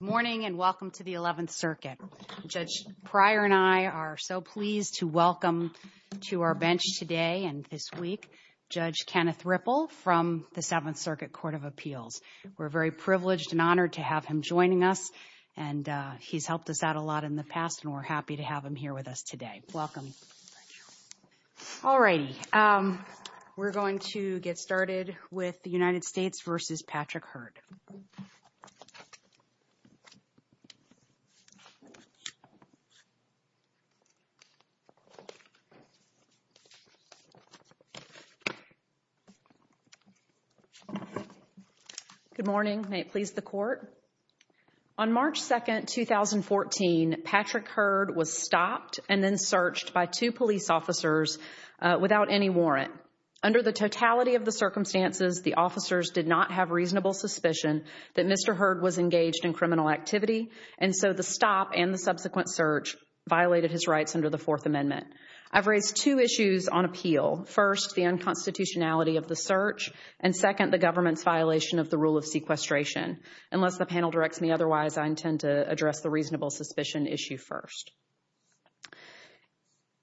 Morning and welcome to the 11th Circuit. Judge Pryor and I are so pleased to welcome to our bench today and this week Judge Kenneth Ripple from the 7th Circuit Court of Appeals. We're very privileged and honored to have him joining us and he's helped us out a lot in the past and we're happy to have him here with us today. Welcome. Alrighty, we're going to get started with the United States v. Patrick Heard. Good morning. May it please the Court? On March 2, 2014, Patrick Heard was stopped and then the officers did not have reasonable suspicion that Mr. Heard was engaged in criminal activity and so the stop and the subsequent search violated his rights under the Fourth Amendment. I've raised two issues on appeal. First, the unconstitutionality of the search and second, the government's violation of the rule of sequestration. Unless the panel directs me otherwise, I intend to address the reasonable suspicion issue first.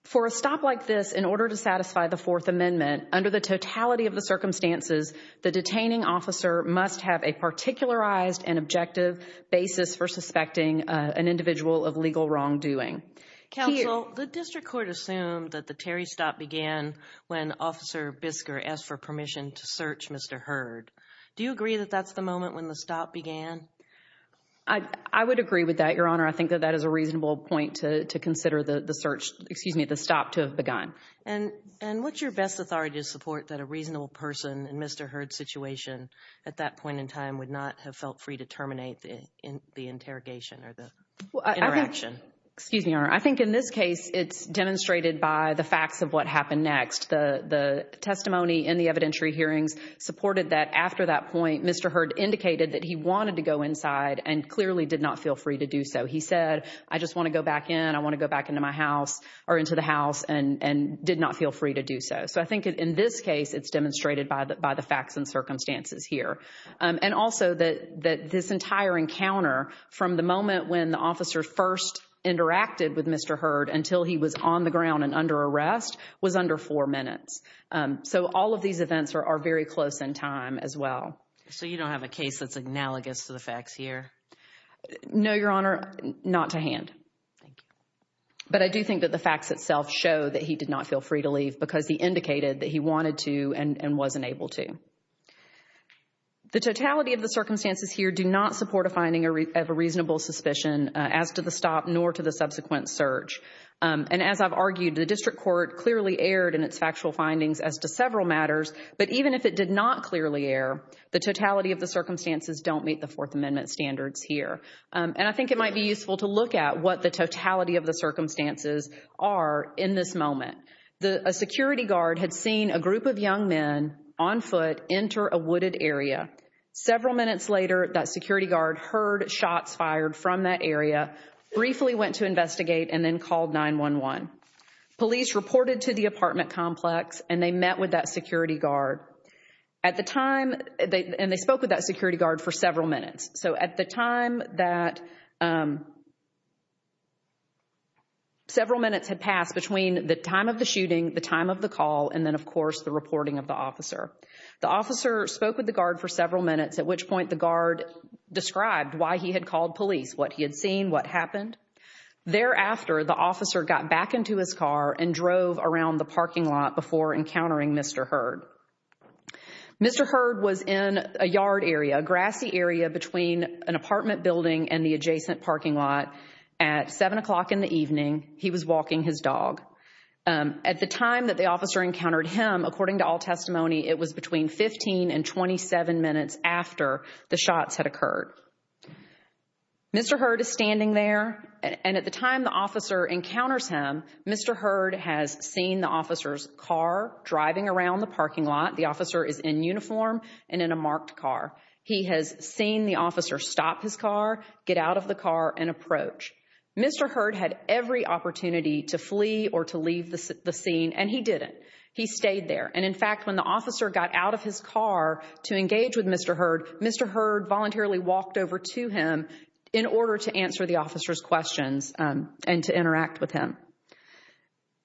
For a stop like this, in order to satisfy the Fourth Amendment under the totality of circumstances, the detaining officer must have a particularized and objective basis for suspecting an individual of legal wrongdoing. Counsel, the district court assumed that the Terry stop began when Officer Bisker asked for permission to search Mr. Heard. Do you agree that that's the moment when the stop began? I would agree with that, Your Honor. I think that that is a reasonable point to consider the search, excuse me, the stop to have begun. And what's your best authority to support that a reasonable person in Mr. Heard's situation at that point in time would not have felt free to terminate the interrogation or the interaction? Excuse me, Your Honor. I think in this case, it's demonstrated by the facts of what happened next. The testimony in the evidentiary hearings supported that after that point, Mr. Heard indicated that he wanted to go inside and clearly did not feel free to do so. He said, I just want to go back in. I want to go back into my house or into the house and did not feel free to do so. So I think in this case, it's demonstrated by the facts and circumstances here. And also that this entire encounter from the moment when the officer first interacted with Mr. Heard until he was on the ground and under arrest was under four minutes. So all of these events are very close in time as well. So you don't have a case that's analogous to the facts here? No, Your Honor, not to hand. Thank you. But I do think that the facts itself show that he did not feel free to leave because he indicated that he wanted to and wasn't able to. The totality of the circumstances here do not support a finding of a reasonable suspicion as to the stop nor to the subsequent search. And as I've argued, the district court clearly erred in its factual findings as to several matters. But even if it did not clearly err, the totality of the circumstances don't meet the Fourth Amendment standards here. And I think it might be useful to look at what the totality of the circumstances are in this moment. A security guard had seen a group of young men on foot enter a wooded area. Several minutes later, that security guard heard shots fired from that area, briefly went to investigate and then called 911. Police reported to the apartment complex and they met with that security guard. And they spoke with that security guard for several minutes. So at the time that several minutes had passed between the time of the shooting, the time of the call, and then, of course, the reporting of the officer. The officer spoke with the guard for several minutes, at which point the guard described why he had called police, what he had seen, what happened. Thereafter, the officer got back into his car and drove around the parking lot before encountering Mr. Hurd. Mr. Hurd was in a yard area, a grassy area between an apartment building and the adjacent parking lot. At 7 o'clock in the evening, he was walking his dog. At the time that the officer encountered him, according to all testimony, it was between 15 and 27 minutes after the shots had occurred. Mr. Hurd is standing there. And at the time the officer encounters him, Mr. Hurd has seen the officer's car driving around the parking lot. The officer is in uniform and in a marked car. He has seen the officer stop his car, get out of the car, and approach. Mr. Hurd had every opportunity to flee or to leave the scene, and he didn't. He stayed there. And in fact, when the officer got out of his car to engage with Mr. Hurd, Mr. Hurd voluntarily walked over to him in order to answer the and to interact with him.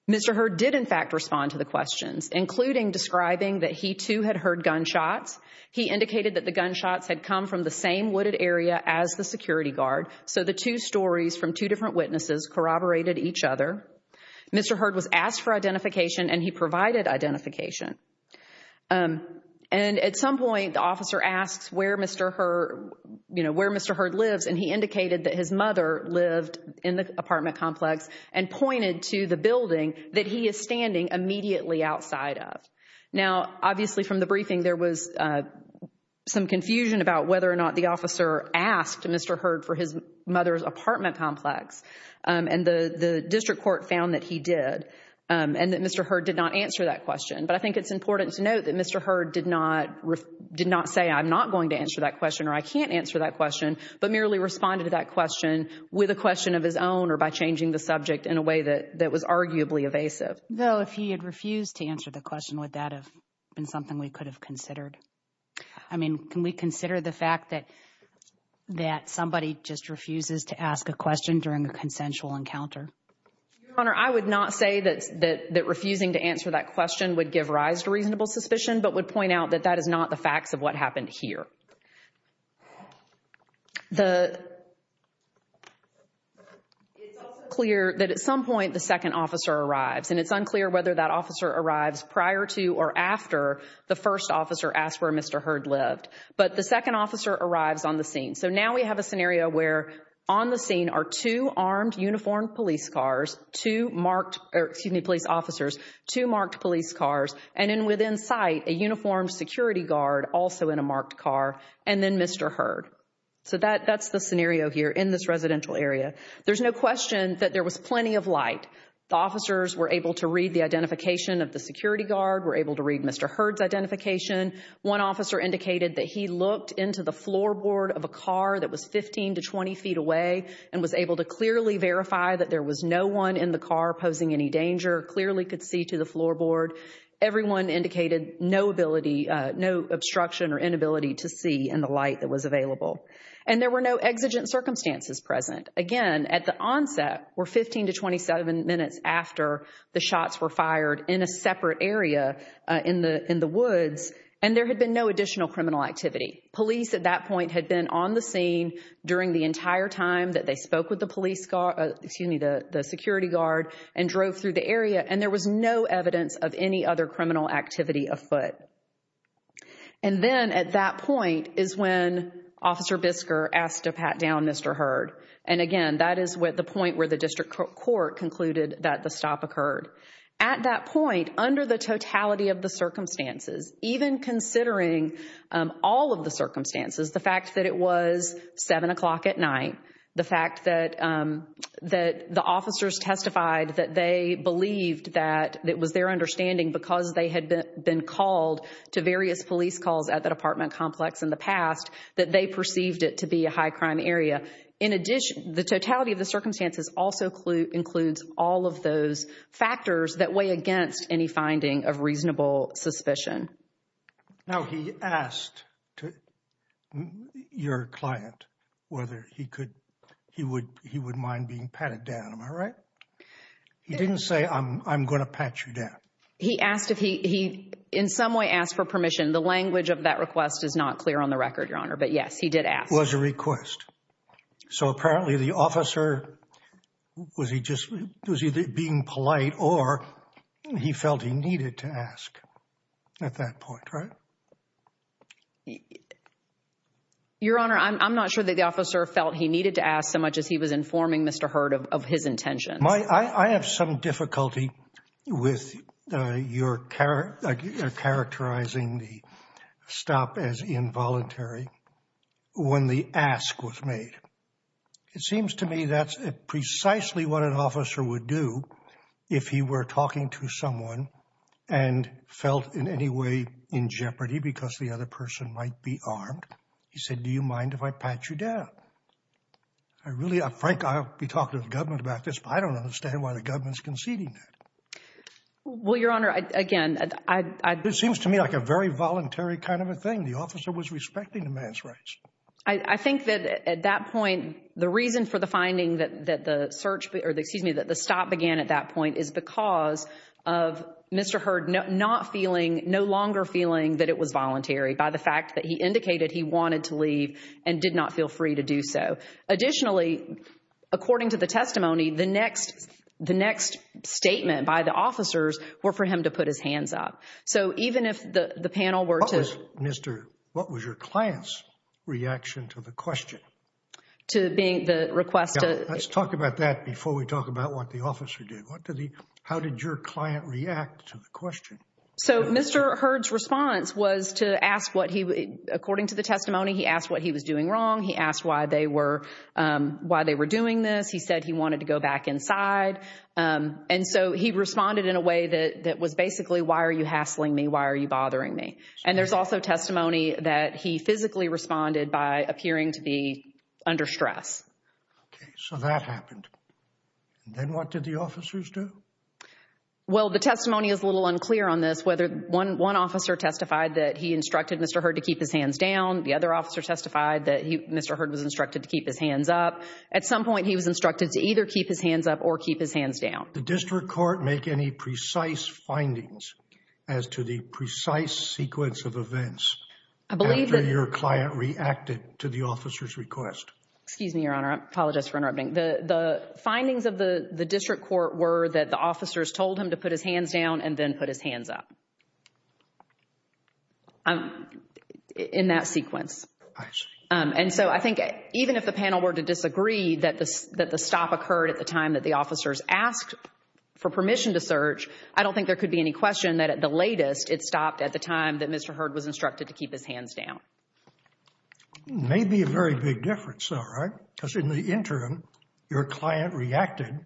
Mr. Hurd did in fact respond to the questions, including describing that he too had heard gunshots. He indicated that the gunshots had come from the same wooded area as the security guard. So the two stories from two different witnesses corroborated each other. Mr. Hurd was asked for identification and he provided identification. And at some point, the officer asks where Mr. Hurd, you know, where Mr. Hurd and pointed to the building that he is standing immediately outside of. Now, obviously, from the briefing, there was some confusion about whether or not the officer asked Mr. Hurd for his mother's apartment complex. And the district court found that he did, and that Mr. Hurd did not answer that question. But I think it's important to note that Mr. Hurd did not say, I'm not going to answer that question or I can't answer that question, but merely responded to that question with a question of his own or by changing the subject in a way that that was arguably evasive. Though, if he had refused to answer the question, would that have been something we could have considered? I mean, can we consider the fact that that somebody just refuses to ask a question during a consensual encounter? Your Honor, I would not say that refusing to answer that question would give rise to reasonable suspicion, but would point out that that is not the facts of what happened here. The, it's also clear that at some point the second officer arrives, and it's unclear whether that officer arrives prior to or after the first officer asked where Mr. Hurd lived. But the second officer arrives on the scene. So now we have a scenario where on the scene are two armed uniformed police cars, two marked, excuse me, police officers, two marked police cars, and then within sight, a uniformed security guard also in a marked car, and then Mr. Hurd. So that, that's the scenario here in this residential area. There's no question that there was plenty of light. The officers were able to read the identification of the security guard, were able to read Mr. Hurd's identification. One officer indicated that he looked into the floorboard of a car that was 15 to 20 feet away and was able to clearly verify that there was no one in the car posing any danger, clearly could see to the floorboard. Everyone indicated no ability, no obstruction or inability to see in the light that was available. And there were no exigent circumstances present. Again, at the onset were 15 to 27 minutes after the shots were fired in a separate area in the, in the woods, and there had been no additional criminal activity. Police at that point had been on the scene during the entire time that they spoke with the police car, excuse me, the security guard and drove through the area, and there was no evidence of any other criminal activity afoot. And then at that point is when Officer Bisker asked to pat down Mr. Hurd. And again, that is what the point where the district court concluded that the stop occurred. At that point, under the totality of the circumstances, even considering all of the circumstances, the fact that it was seven o'clock at night, the fact that, that the officers testified that they believed that it was their understanding because they had been called to various police calls at the apartment complex in the past, that they perceived it to be a high crime area. In addition, the totality of the circumstances also includes all of those factors that weigh against any finding of reasonable suspicion. Now, he asked to your client whether he could, he would, he would mind being patted down. Am I right? He didn't say, I'm going to pat you down. He asked if he, he in some way asked for permission. The language of that request is not clear on the record, Your Honor. But yes, he did ask. Was a request. So apparently the officer, was he just, was he being polite or he felt he needed to ask at that point, right? Your Honor, I'm not sure that the officer felt he needed to ask so much as he was informing Mr. Hurd of his intentions. I have some difficulty with your characterizing the stop as involuntary when the ask was made. It seems to me that's precisely what an officer would do if he were talking to someone and felt in any way in jeopardy because the other person might be armed. He said, do you mind if I pat you down? I really, Frank, I'll be talking to the government about this, but I don't understand why the government's conceding that. Well, Your Honor, again, I, I, It seems to me like a very voluntary kind of a thing. The officer was respecting the man's rights. I, I think that at that point, the reason for finding that, that the search, excuse me, that the stop began at that point is because of Mr. Hurd not feeling, no longer feeling that it was voluntary by the fact that he indicated he wanted to leave and did not feel free to do so. Additionally, according to the testimony, the next, the next statement by the officers were for him to put his hands up. So even if the, the panel were to. What was, Mr., what was your client's reaction to the question? To being, the request to. Let's talk about that before we talk about what the officer did. What did he, how did your client react to the question? So Mr. Hurd's response was to ask what he, according to the testimony, he asked what he was doing wrong. He asked why they were, why they were doing this. He said he wanted to go back inside. And so he responded in a way that, that was basically, why are you hassling me? Why are you bothering me? And there's also testimony that he physically responded by appearing to be under stress. Okay. So that happened. Then what did the officers do? Well, the testimony is a little unclear on this, whether one, one officer testified that he instructed Mr. Hurd to keep his hands down. The other officer testified that he, Mr. Hurd was instructed to keep his hands up. At some point he was instructed to either keep his hands up or keep his hands down. The district court make any precise findings as to the precise sequence of events. I believe that. Your client reacted to the officer's request. Excuse me, Your Honor. I apologize for interrupting. The findings of the district court were that the officers told him to put his hands down and then put his hands up. In that sequence. I see. And so I think even if the panel were to disagree that the stop occurred at the time that the officers asked for permission to search, I don't think there could be any question that at the latest it stopped at the time that Mr. Hurd was instructed to keep his hands down. It made me a very big difference though, right? Because in the interim, your client reacted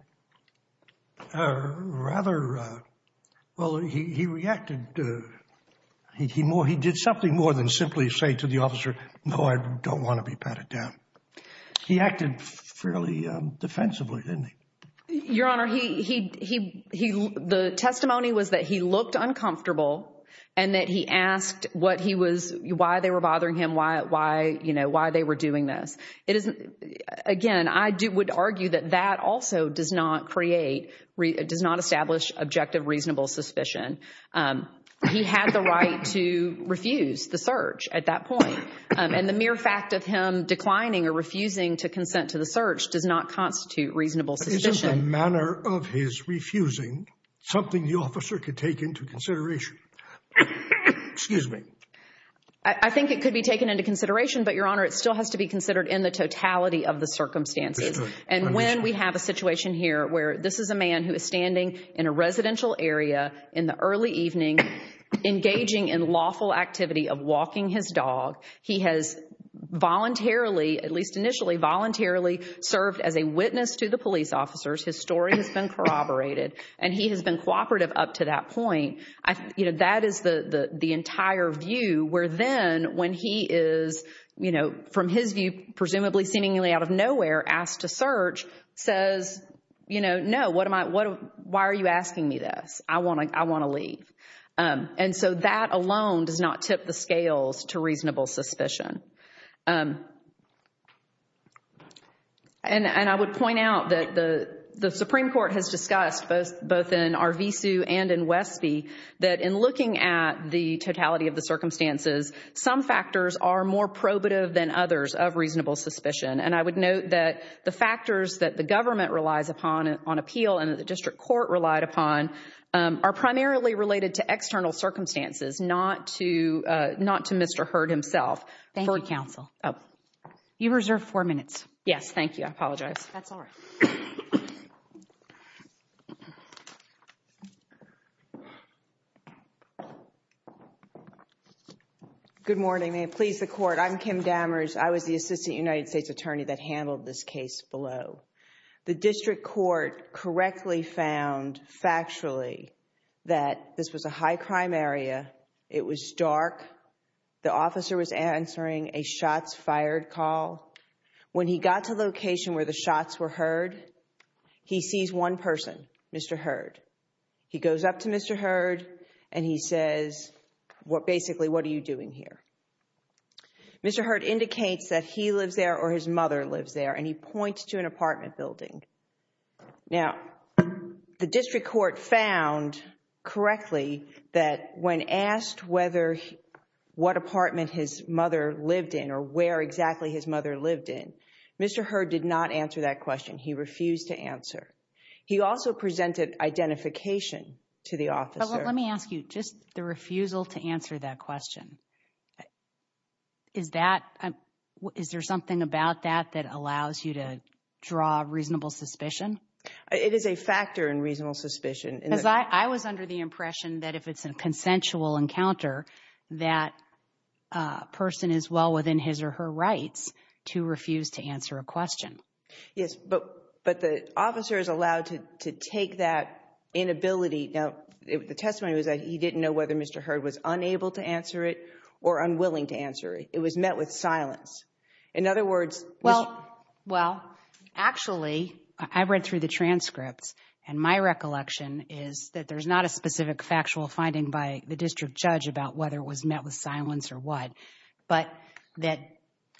rather, well, he reacted, he did something more than simply say to the officer, no, I don't want to be patted down. He acted fairly defensively, didn't he? Your Honor, the testimony was that he looked uncomfortable and that he asked what he was, why they were bothering him, why, you know, why they were doing this. It is, again, I would argue that that also does not create, does not establish objective reasonable suspicion. He had the right to refuse the search at that point. And the mere fact of him declining or refusing to consent to the search does not constitute reasonable suspicion. But isn't the manner of his refusing something the officer could take into consideration? Excuse me. I think it could be taken into consideration, but Your Honor, it still has to be considered in the totality of the circumstances. And when we have a situation here where this is a man who is standing in a residential area in the early evening, engaging in lawful activity of walking his dog, he has voluntarily, at least initially, voluntarily served as a witness to the police officers. His story has been corroborated and he has been cooperative up to that point. You know, that is the entire view where then when he is, you know, from his view, presumably seemingly out of nowhere, asked to search, says, you know, no, what am I, why are you asking me this? I want to leave. And so that alone does not tip the scales to reasonable suspicion. And I would point out that the Supreme Court has discussed both in and in Westby that in looking at the totality of the circumstances, some factors are more probative than others of reasonable suspicion. And I would note that the factors that the government relies upon on appeal and the district court relied upon are primarily related to external circumstances, not to Mr. Hurd himself. Thank you, counsel. You reserve four minutes. Yes, thank you. I apologize. That's all right. Good morning. May it please the court. I'm Kim Damers. I was the assistant United States attorney that handled this case below. The district court correctly found factually that this was a high crime area. It was dark. The officer was answering a shots fired call. When he got to the location where the shots were heard, he sees one person, Mr. Hurd. He goes up to Mr. Hurd and he says, well, basically, what are you doing here? Mr. Hurd indicates that he lives there or his mother lives there. And he points to an apartment building. Now, the district court found correctly that when asked whether what apartment his mother lived in or where exactly his mother lived in, Mr. Hurd did not answer that question. He refused to answer. He also presented identification to the officer. Let me ask you just the refusal to answer that question. Is that is there something about that that allows you to draw reasonable suspicion? It is a factor in reasonable suspicion. I was under the impression that if it's a consensual encounter, that person is well within his or her rights to refuse to answer a question. Yes, but but the officer is allowed to to take that inability. Now, the testimony was that he didn't know whether Mr. Hurd was unable to answer it or unwilling to answer. It was met with silence. In other words, well, well, actually, I read through the transcripts and my recollection is that there's not a specific factual finding by the district judge about whether it was met with silence or what, but that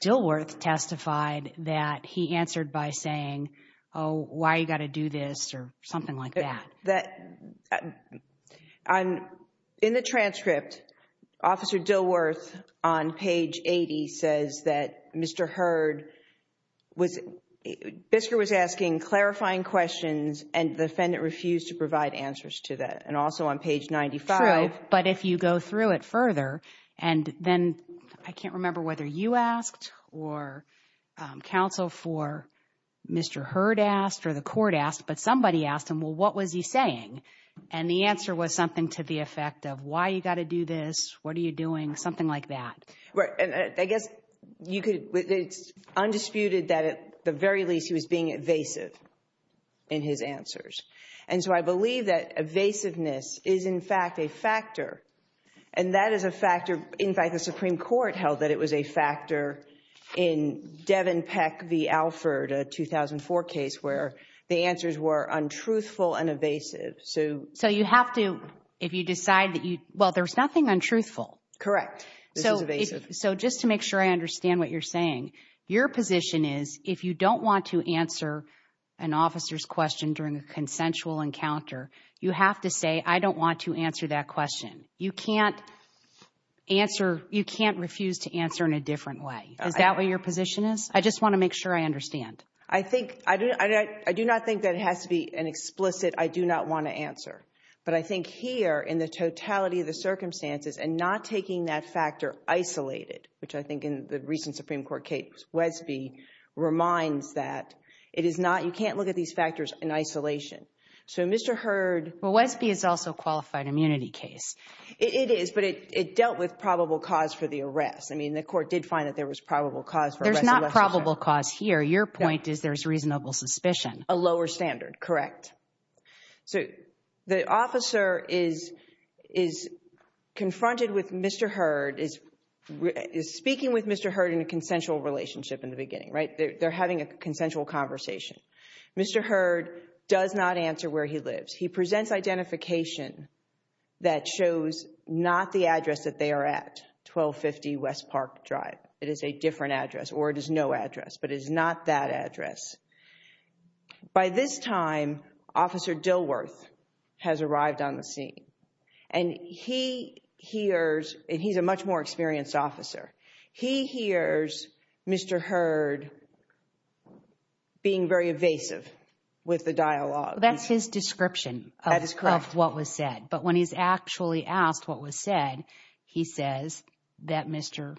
Dilworth testified that he answered by saying, oh, why you got to do this or something like that. In the transcript, Officer Dilworth on page 80 says that Mr. Hurd was, Bisker was asking clarifying questions and the defendant refused to provide answers to that. And also on page 95. But if you go through it further and then I can't remember whether you asked or counsel for Mr. Hurd asked or the court asked, but somebody asked him, well, what was he saying? And the answer was something to the effect of why you got to do this. What are you doing? Something like that. I guess you could, it's undisputed that at the very least he was being evasive in his answers. And so I believe that evasiveness is in fact a factor. And that is a factor, in fact, the Supreme Court held that it was a factor in Devin Peck v. Alford, a 2004 case where the answers were untruthful and evasive. So you have to, if you decide that you, well, there's nothing untruthful. Correct. This is evasive. So just to make sure I understand what you're saying, your position is if you don't want to answer an officer's question during a consensual encounter, you have to say, I don't want to answer that question. You can't answer, you can't refuse to answer in a different way. Is that what your position is? I just want to make sure I understand. I think, I do not think that it has to be an explicit, I do not want to answer. But I think here in the totality of the circumstances and not taking that factor isolated, which I think in the recent Supreme Court case, Wesby reminds that it is not, you can't look at these factors in isolation. So Mr. Hurd. Well, Wesby is also a qualified immunity case. It is, but it dealt with probable cause for the arrest. I mean, the court did find that there was probable cause for arrest. There's not probable cause here. Your point is there's reasonable suspicion. A lower standard. Correct. So the officer is confronted with Mr. Hurd, is speaking with Mr. Hurd in a consensual relationship in the beginning, right? They're having a consensual conversation. Mr. Hurd does not answer where he lives. He presents identification that shows not the address that they are at, 1250 West Park Drive. It is a different address or it is no address, but it is not that address. By this time, Officer Dilworth has arrived on the scene and he hears, and he's a much more experienced officer. He hears Mr. Hurd being very evasive with the dialogue. That's his description of what was said, but when he's actually asked what was said, he says that Mr.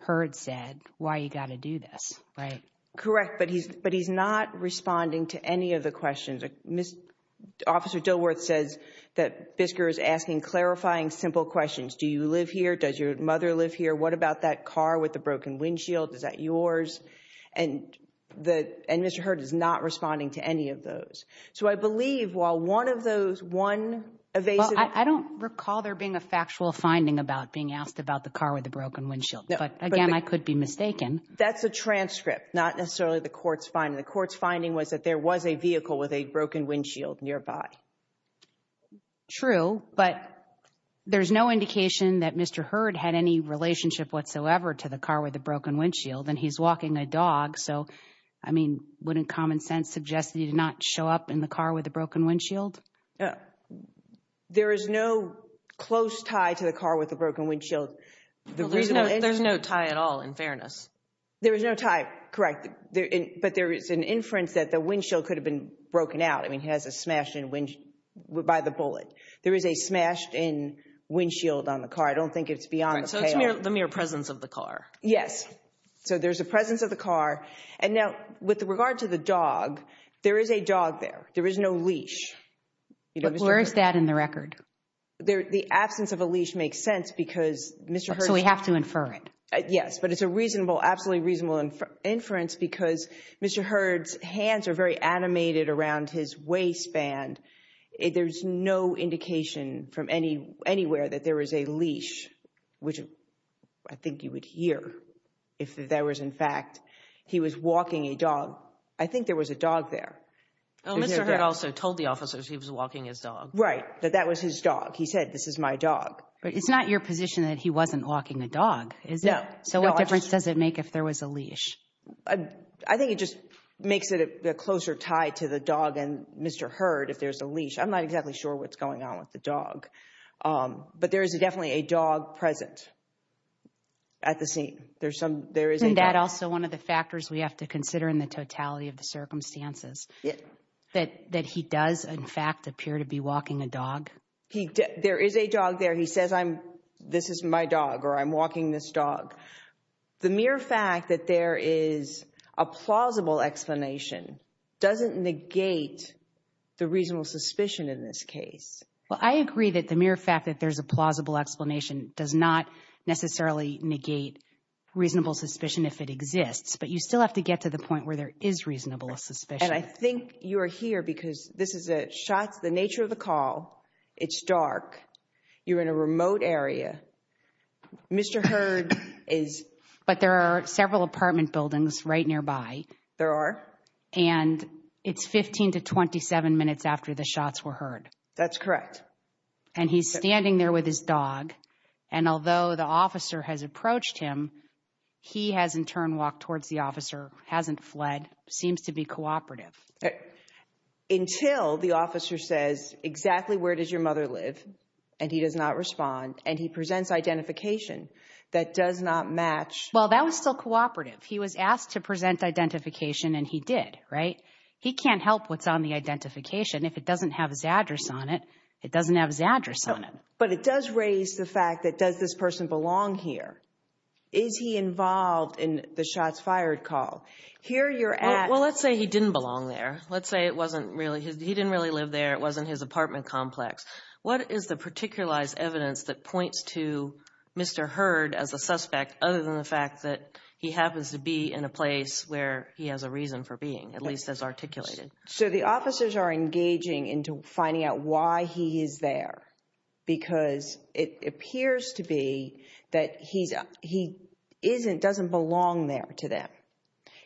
Hurd said, why you got to do this, right? Correct, but he's not responding to any of the questions. Officer Dilworth says that Bisker is asking clarifying, simple questions. Do you live here? Does your mother live here? What about that car with the broken windshield? Is that yours? And Mr. Hurd is not responding to any of those. So I believe while one of those, one evasive... I don't recall there being a factual finding about being asked about the car with the broken windshield, but again, I could be mistaken. That's a transcript, not necessarily the court's finding. The court's finding was that there was a vehicle with a broken windshield nearby. True, but there's no indication that Mr. Hurd had any relationship whatsoever to the car with the broken windshield and he's walking a dog. So I mean, wouldn't common sense suggest that he did not show up in the car with a broken windshield? There is no close tie to the car with the broken windshield. There's no tie at all, in fairness. There is no tie, correct. But there is an inference that the windshield could have been broken out. I mean, he has a smashed windshield by the bullet. There is a smashed in windshield on the car. I don't think it's beyond the pale. So it's the mere presence of the car. Yes. So there's a presence of the car. And now with regard to the dog, there is a dog there. There is no leash. Where is that in the record? The absence of a leash makes sense because Mr. Hurd... So we have to infer it. Yes, but it's a reasonable, absolutely reasonable inference because Mr. Hurd's hands are very animated around his waistband. There's no indication from anywhere that there is a leash, which I think you would hear if there was in fact, he was walking a dog. I think there was a dog there. Oh, Mr. Hurd also told the officers he was walking his dog. Right. That that was his dog. He said, this is my dog. But it's not your position that he wasn't walking a dog. So what difference does it make if there was a leash? I think it just makes it a closer tie to the dog and Mr. Hurd if there's a leash. I'm not exactly sure what's going on with the dog, but there is definitely a dog present at the scene. There's some... Isn't that also one of the factors we have to consider in the totality of the circumstances, that he does in fact appear to be walking a dog? There is a dog there. He says, this is my dog or I'm walking this dog. The mere fact that there is a plausible explanation doesn't negate the reasonable suspicion in this case. Well, I agree that the mere fact that there's a plausible explanation does not necessarily negate reasonable suspicion if it exists, but you still have to get to the point where there is reasonable suspicion. And I think you are here because this is the nature of the call. It's dark. You're in a remote area. Mr. Hurd is... But there are several apartment buildings right nearby. There are. And it's 15 to 27 minutes after the shots were heard. That's correct. And he's standing there with his dog. And although the officer has approached him, he has in turn walked towards the officer, hasn't fled, seems to be cooperative. Until the officer says, exactly where does your mother live? And he does not respond. And he presents identification that does not match. Well, that was still cooperative. He was asked to present identification and he did, right? He can't help what's on the identification. If it doesn't have his address on it, it doesn't have his address on it. But it does raise the fact that does this person belong here? Is he involved in the shots fired call? Here you're at... Well, let's say he didn't belong there. Let's say it wasn't really... He didn't really live there. It wasn't his apartment complex. What is the particularized evidence that points to Mr. Heard as a suspect, other than the fact that he happens to be in a place where he has a reason for being, at least as articulated? So the officers are engaging into finding out why he is there. Because it appears to be that he doesn't belong there to them.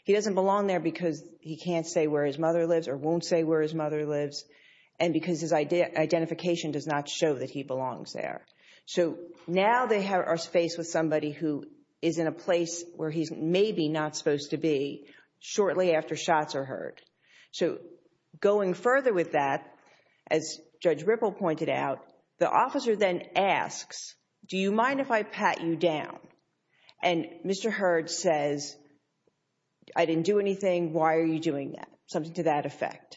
He doesn't belong there because he can't say where his mother lives or won't say where his mother lives. And because his identification does not show that he belongs there. So now they are faced with somebody who is in a place where he's maybe not supposed to be shortly after shots are heard. So going further with that, as Judge Ripple pointed out, the officer then asks, do you mind if I pat you down? And Mr. Heard says, I didn't do anything. Why are you doing that? Something to that effect.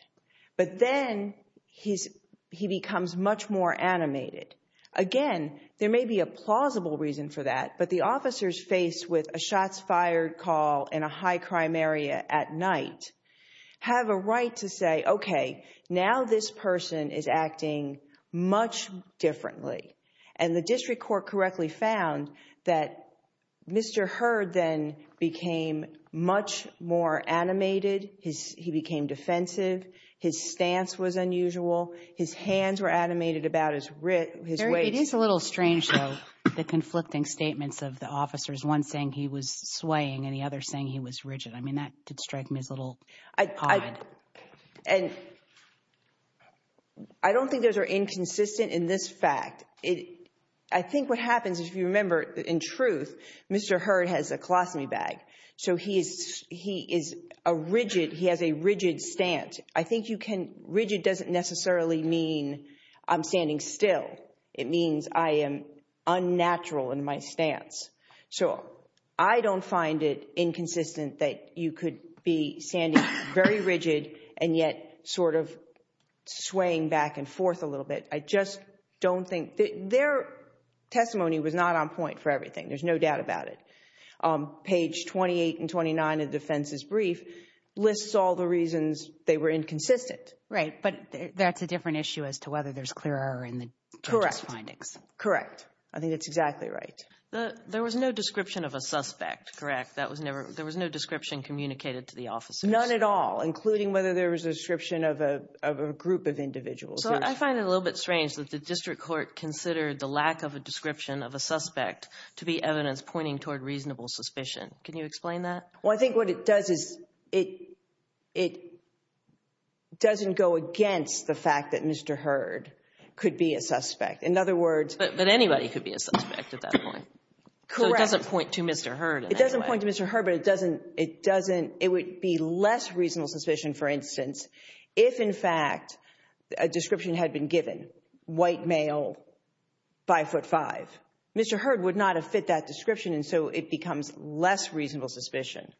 But then he becomes much more animated. Again, there may be a plausible reason for that. But the officers faced with a shots fired call in a high crime area at night have a right to say, OK, now this person is acting much differently. And the district court correctly found that Mr. Heard then became much more animated. He became defensive. His stance was unusual. His hands were animated about his waist. It is a little strange, though, the conflicting statements of the officers, one saying he was swaying and the other saying he was rigid. I mean, that did strike me as a little odd. And I don't think those are inconsistent in this fact. I think what happens, if you remember, in truth, Mr. Heard has a colostomy bag. So he is a rigid, he has a rigid stance. I think you can, rigid doesn't necessarily mean I'm standing still. It means I am unnatural in my stance. So I don't find it inconsistent that you could be standing very rigid and yet sort of swaying back and forth a little bit. I just don't think, their testimony was not on point for everything. There's no doubt about it. Page 28 and 29 of the defense's brief lists all the reasons they were inconsistent. Right, but that's a different issue as to whether there's clear error in the test findings. Correct. I think that's exactly right. There was no description of a suspect, correct? That was never, there was no description communicated to the officers. None at all, including whether there was a description of a group of individuals. So I find it a little bit strange that the district court considered the lack of a description of a suspect to be evidence pointing toward reasonable suspicion. Can you explain that? Well, I think what it does is, it doesn't go against the fact that Mr. Hurd could be a suspect. In other words... But anybody could be a suspect at that point. Correct. So it doesn't point to Mr. Hurd. It doesn't point to Mr. Hurd, but it doesn't, it doesn't, it would be less reasonable suspicion, for instance, if in fact a description had been given, white male, five foot five. Mr. Hurd would not have fit that description, and so it becomes less reasonable suspicion.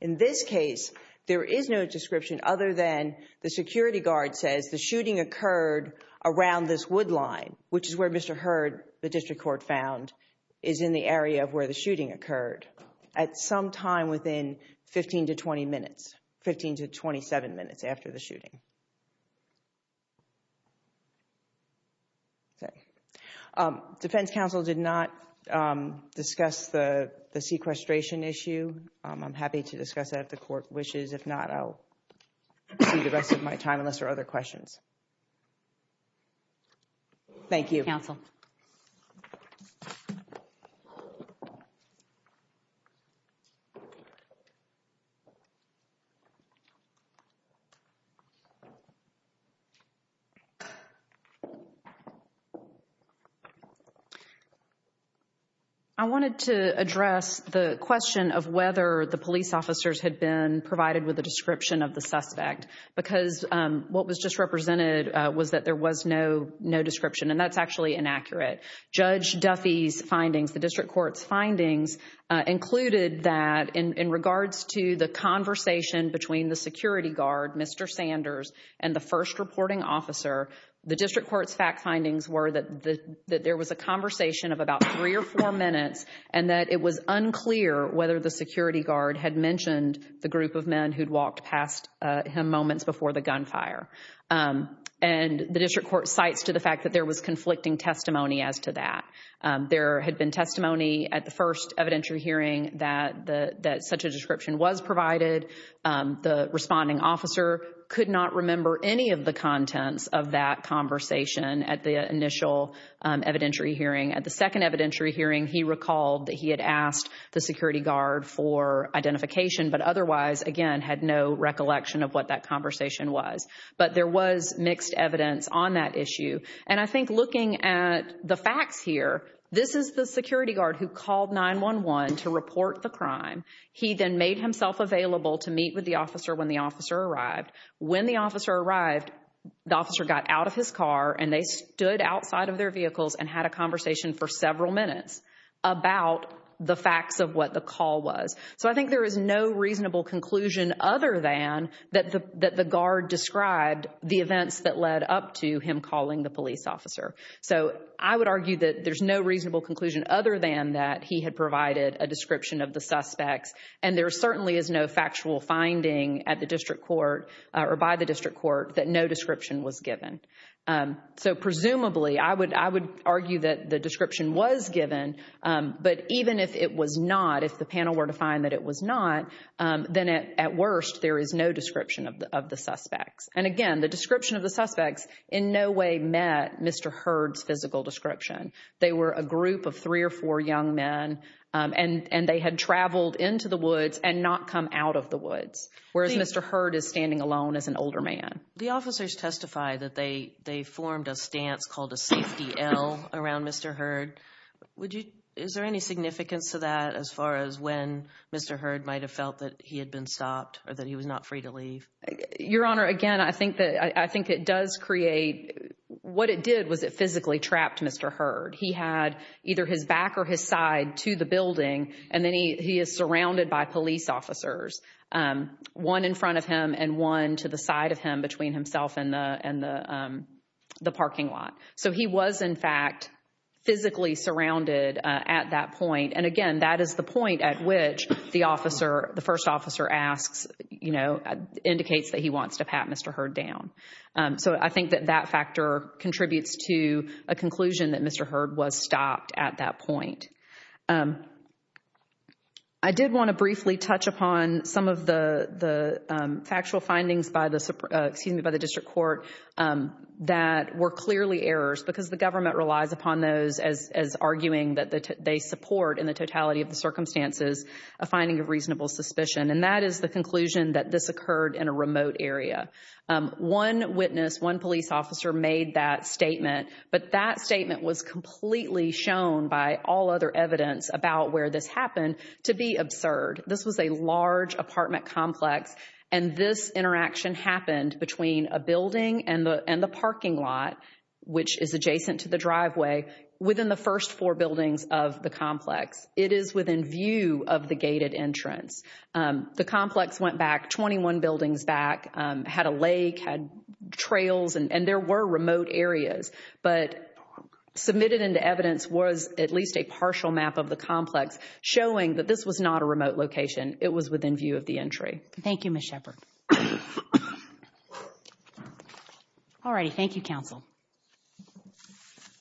In this case, there is no description other than the security guard says, the shooting occurred around this wood line, which is where Mr. Hurd, the district court found, is in the area of where the shooting occurred, at some time within 15 to 20 minutes, 15 to 27 minutes after the shooting. Okay. Defense counsel did not discuss the sequestration issue. I'm happy to discuss that if the court wishes. If not, I'll see the rest of my time, unless there are other questions. Thank you. Counsel. I wanted to address the question of whether the police officers had been provided with a description of the suspect, because what was just represented was that there was no, no description, and that's actually inaccurate. Judge Duffy's findings, the district court's findings, included that in regards to the conversation between the security guard, Mr. Sanders, and the first reporting officer, the district court's fact findings were that there was a conversation of about three or four minutes, and that it was unclear whether the security guard had mentioned the group of men who'd walked past him moments before the gunfire. And the district court cites to the fact that there was conflicting testimony as to that. There had been testimony at the first evidentiary hearing that such a description was provided. The responding officer could not remember any of the contents of that conversation at the initial evidentiary hearing. At the second evidentiary hearing, he recalled that he had asked the security guard for identification, but otherwise, again, had no recollection of what that conversation was. But there was mixed evidence on that issue. And I think looking at the facts here, this is the security guard who called 911 to report the crime. He then made himself available to meet with the officer when the officer arrived. When the officer arrived, the officer got out of his car and they stood outside of their vehicles and had a conversation for several minutes about the facts of what the call was. So I think there is no reasonable conclusion other than that the guard described the events that led up to him calling the police officer. So I would argue that there's no reasonable conclusion other than that he had provided a description of the suspects. And there certainly is no factual finding at the district court or by the district court that no description was given. So presumably, I would argue that the description was given. But even if it was not, if the panel were to find that it was not, then at worst, there is no description of the suspects. And again, the description of the suspects in no way met Mr. Hurd's physical description. They were a group of three or four young men and they had traveled into the woods and not come out of the woods, whereas Mr. Hurd is standing alone as an older man. The officers testify that they formed a stance called a safety L around Mr. Hurd. Is there any significance to that as far as when Mr. Hurd might have felt that he had been stopped or that he was not free to leave? Your Honor, again, I think it does create, what it did was it physically trapped Mr. Hurd. He had either his back or his side to the building and then he is surrounded by police officers, one in front of him and one to the side of him between himself and the parking lot. So he was, in fact, physically surrounded at that point. And again, that is the point at which the officer, the first officer asks, you know, indicates that he wants to pat Mr. Hurd down. So I think that that factor contributes to a conclusion that Mr. Hurd was stopped at that point. I did want to briefly touch upon some of the factual findings by the, excuse me, by the district court that were clearly errors because the government relies upon those as arguing that they support in the totality of the circumstances, a finding of reasonable suspicion. And that is the conclusion that this occurred in a remote area. One witness, one police officer made that statement, but that statement was completely shown by all other evidence about where this happened to be absurd. This was a large apartment complex and this interaction happened between a building and the parking lot, which is adjacent to the driveway, within the first four buildings of the complex. It is within view of the gated entrance. The complex went back 21 buildings back, had a lake, had trails, and there were remote areas, but submitted into evidence was at least a partial map of the complex showing that this was not a remote location. It was within view of the entry. Thank you, Ms. Shepard. All righty. Thank you, counsel.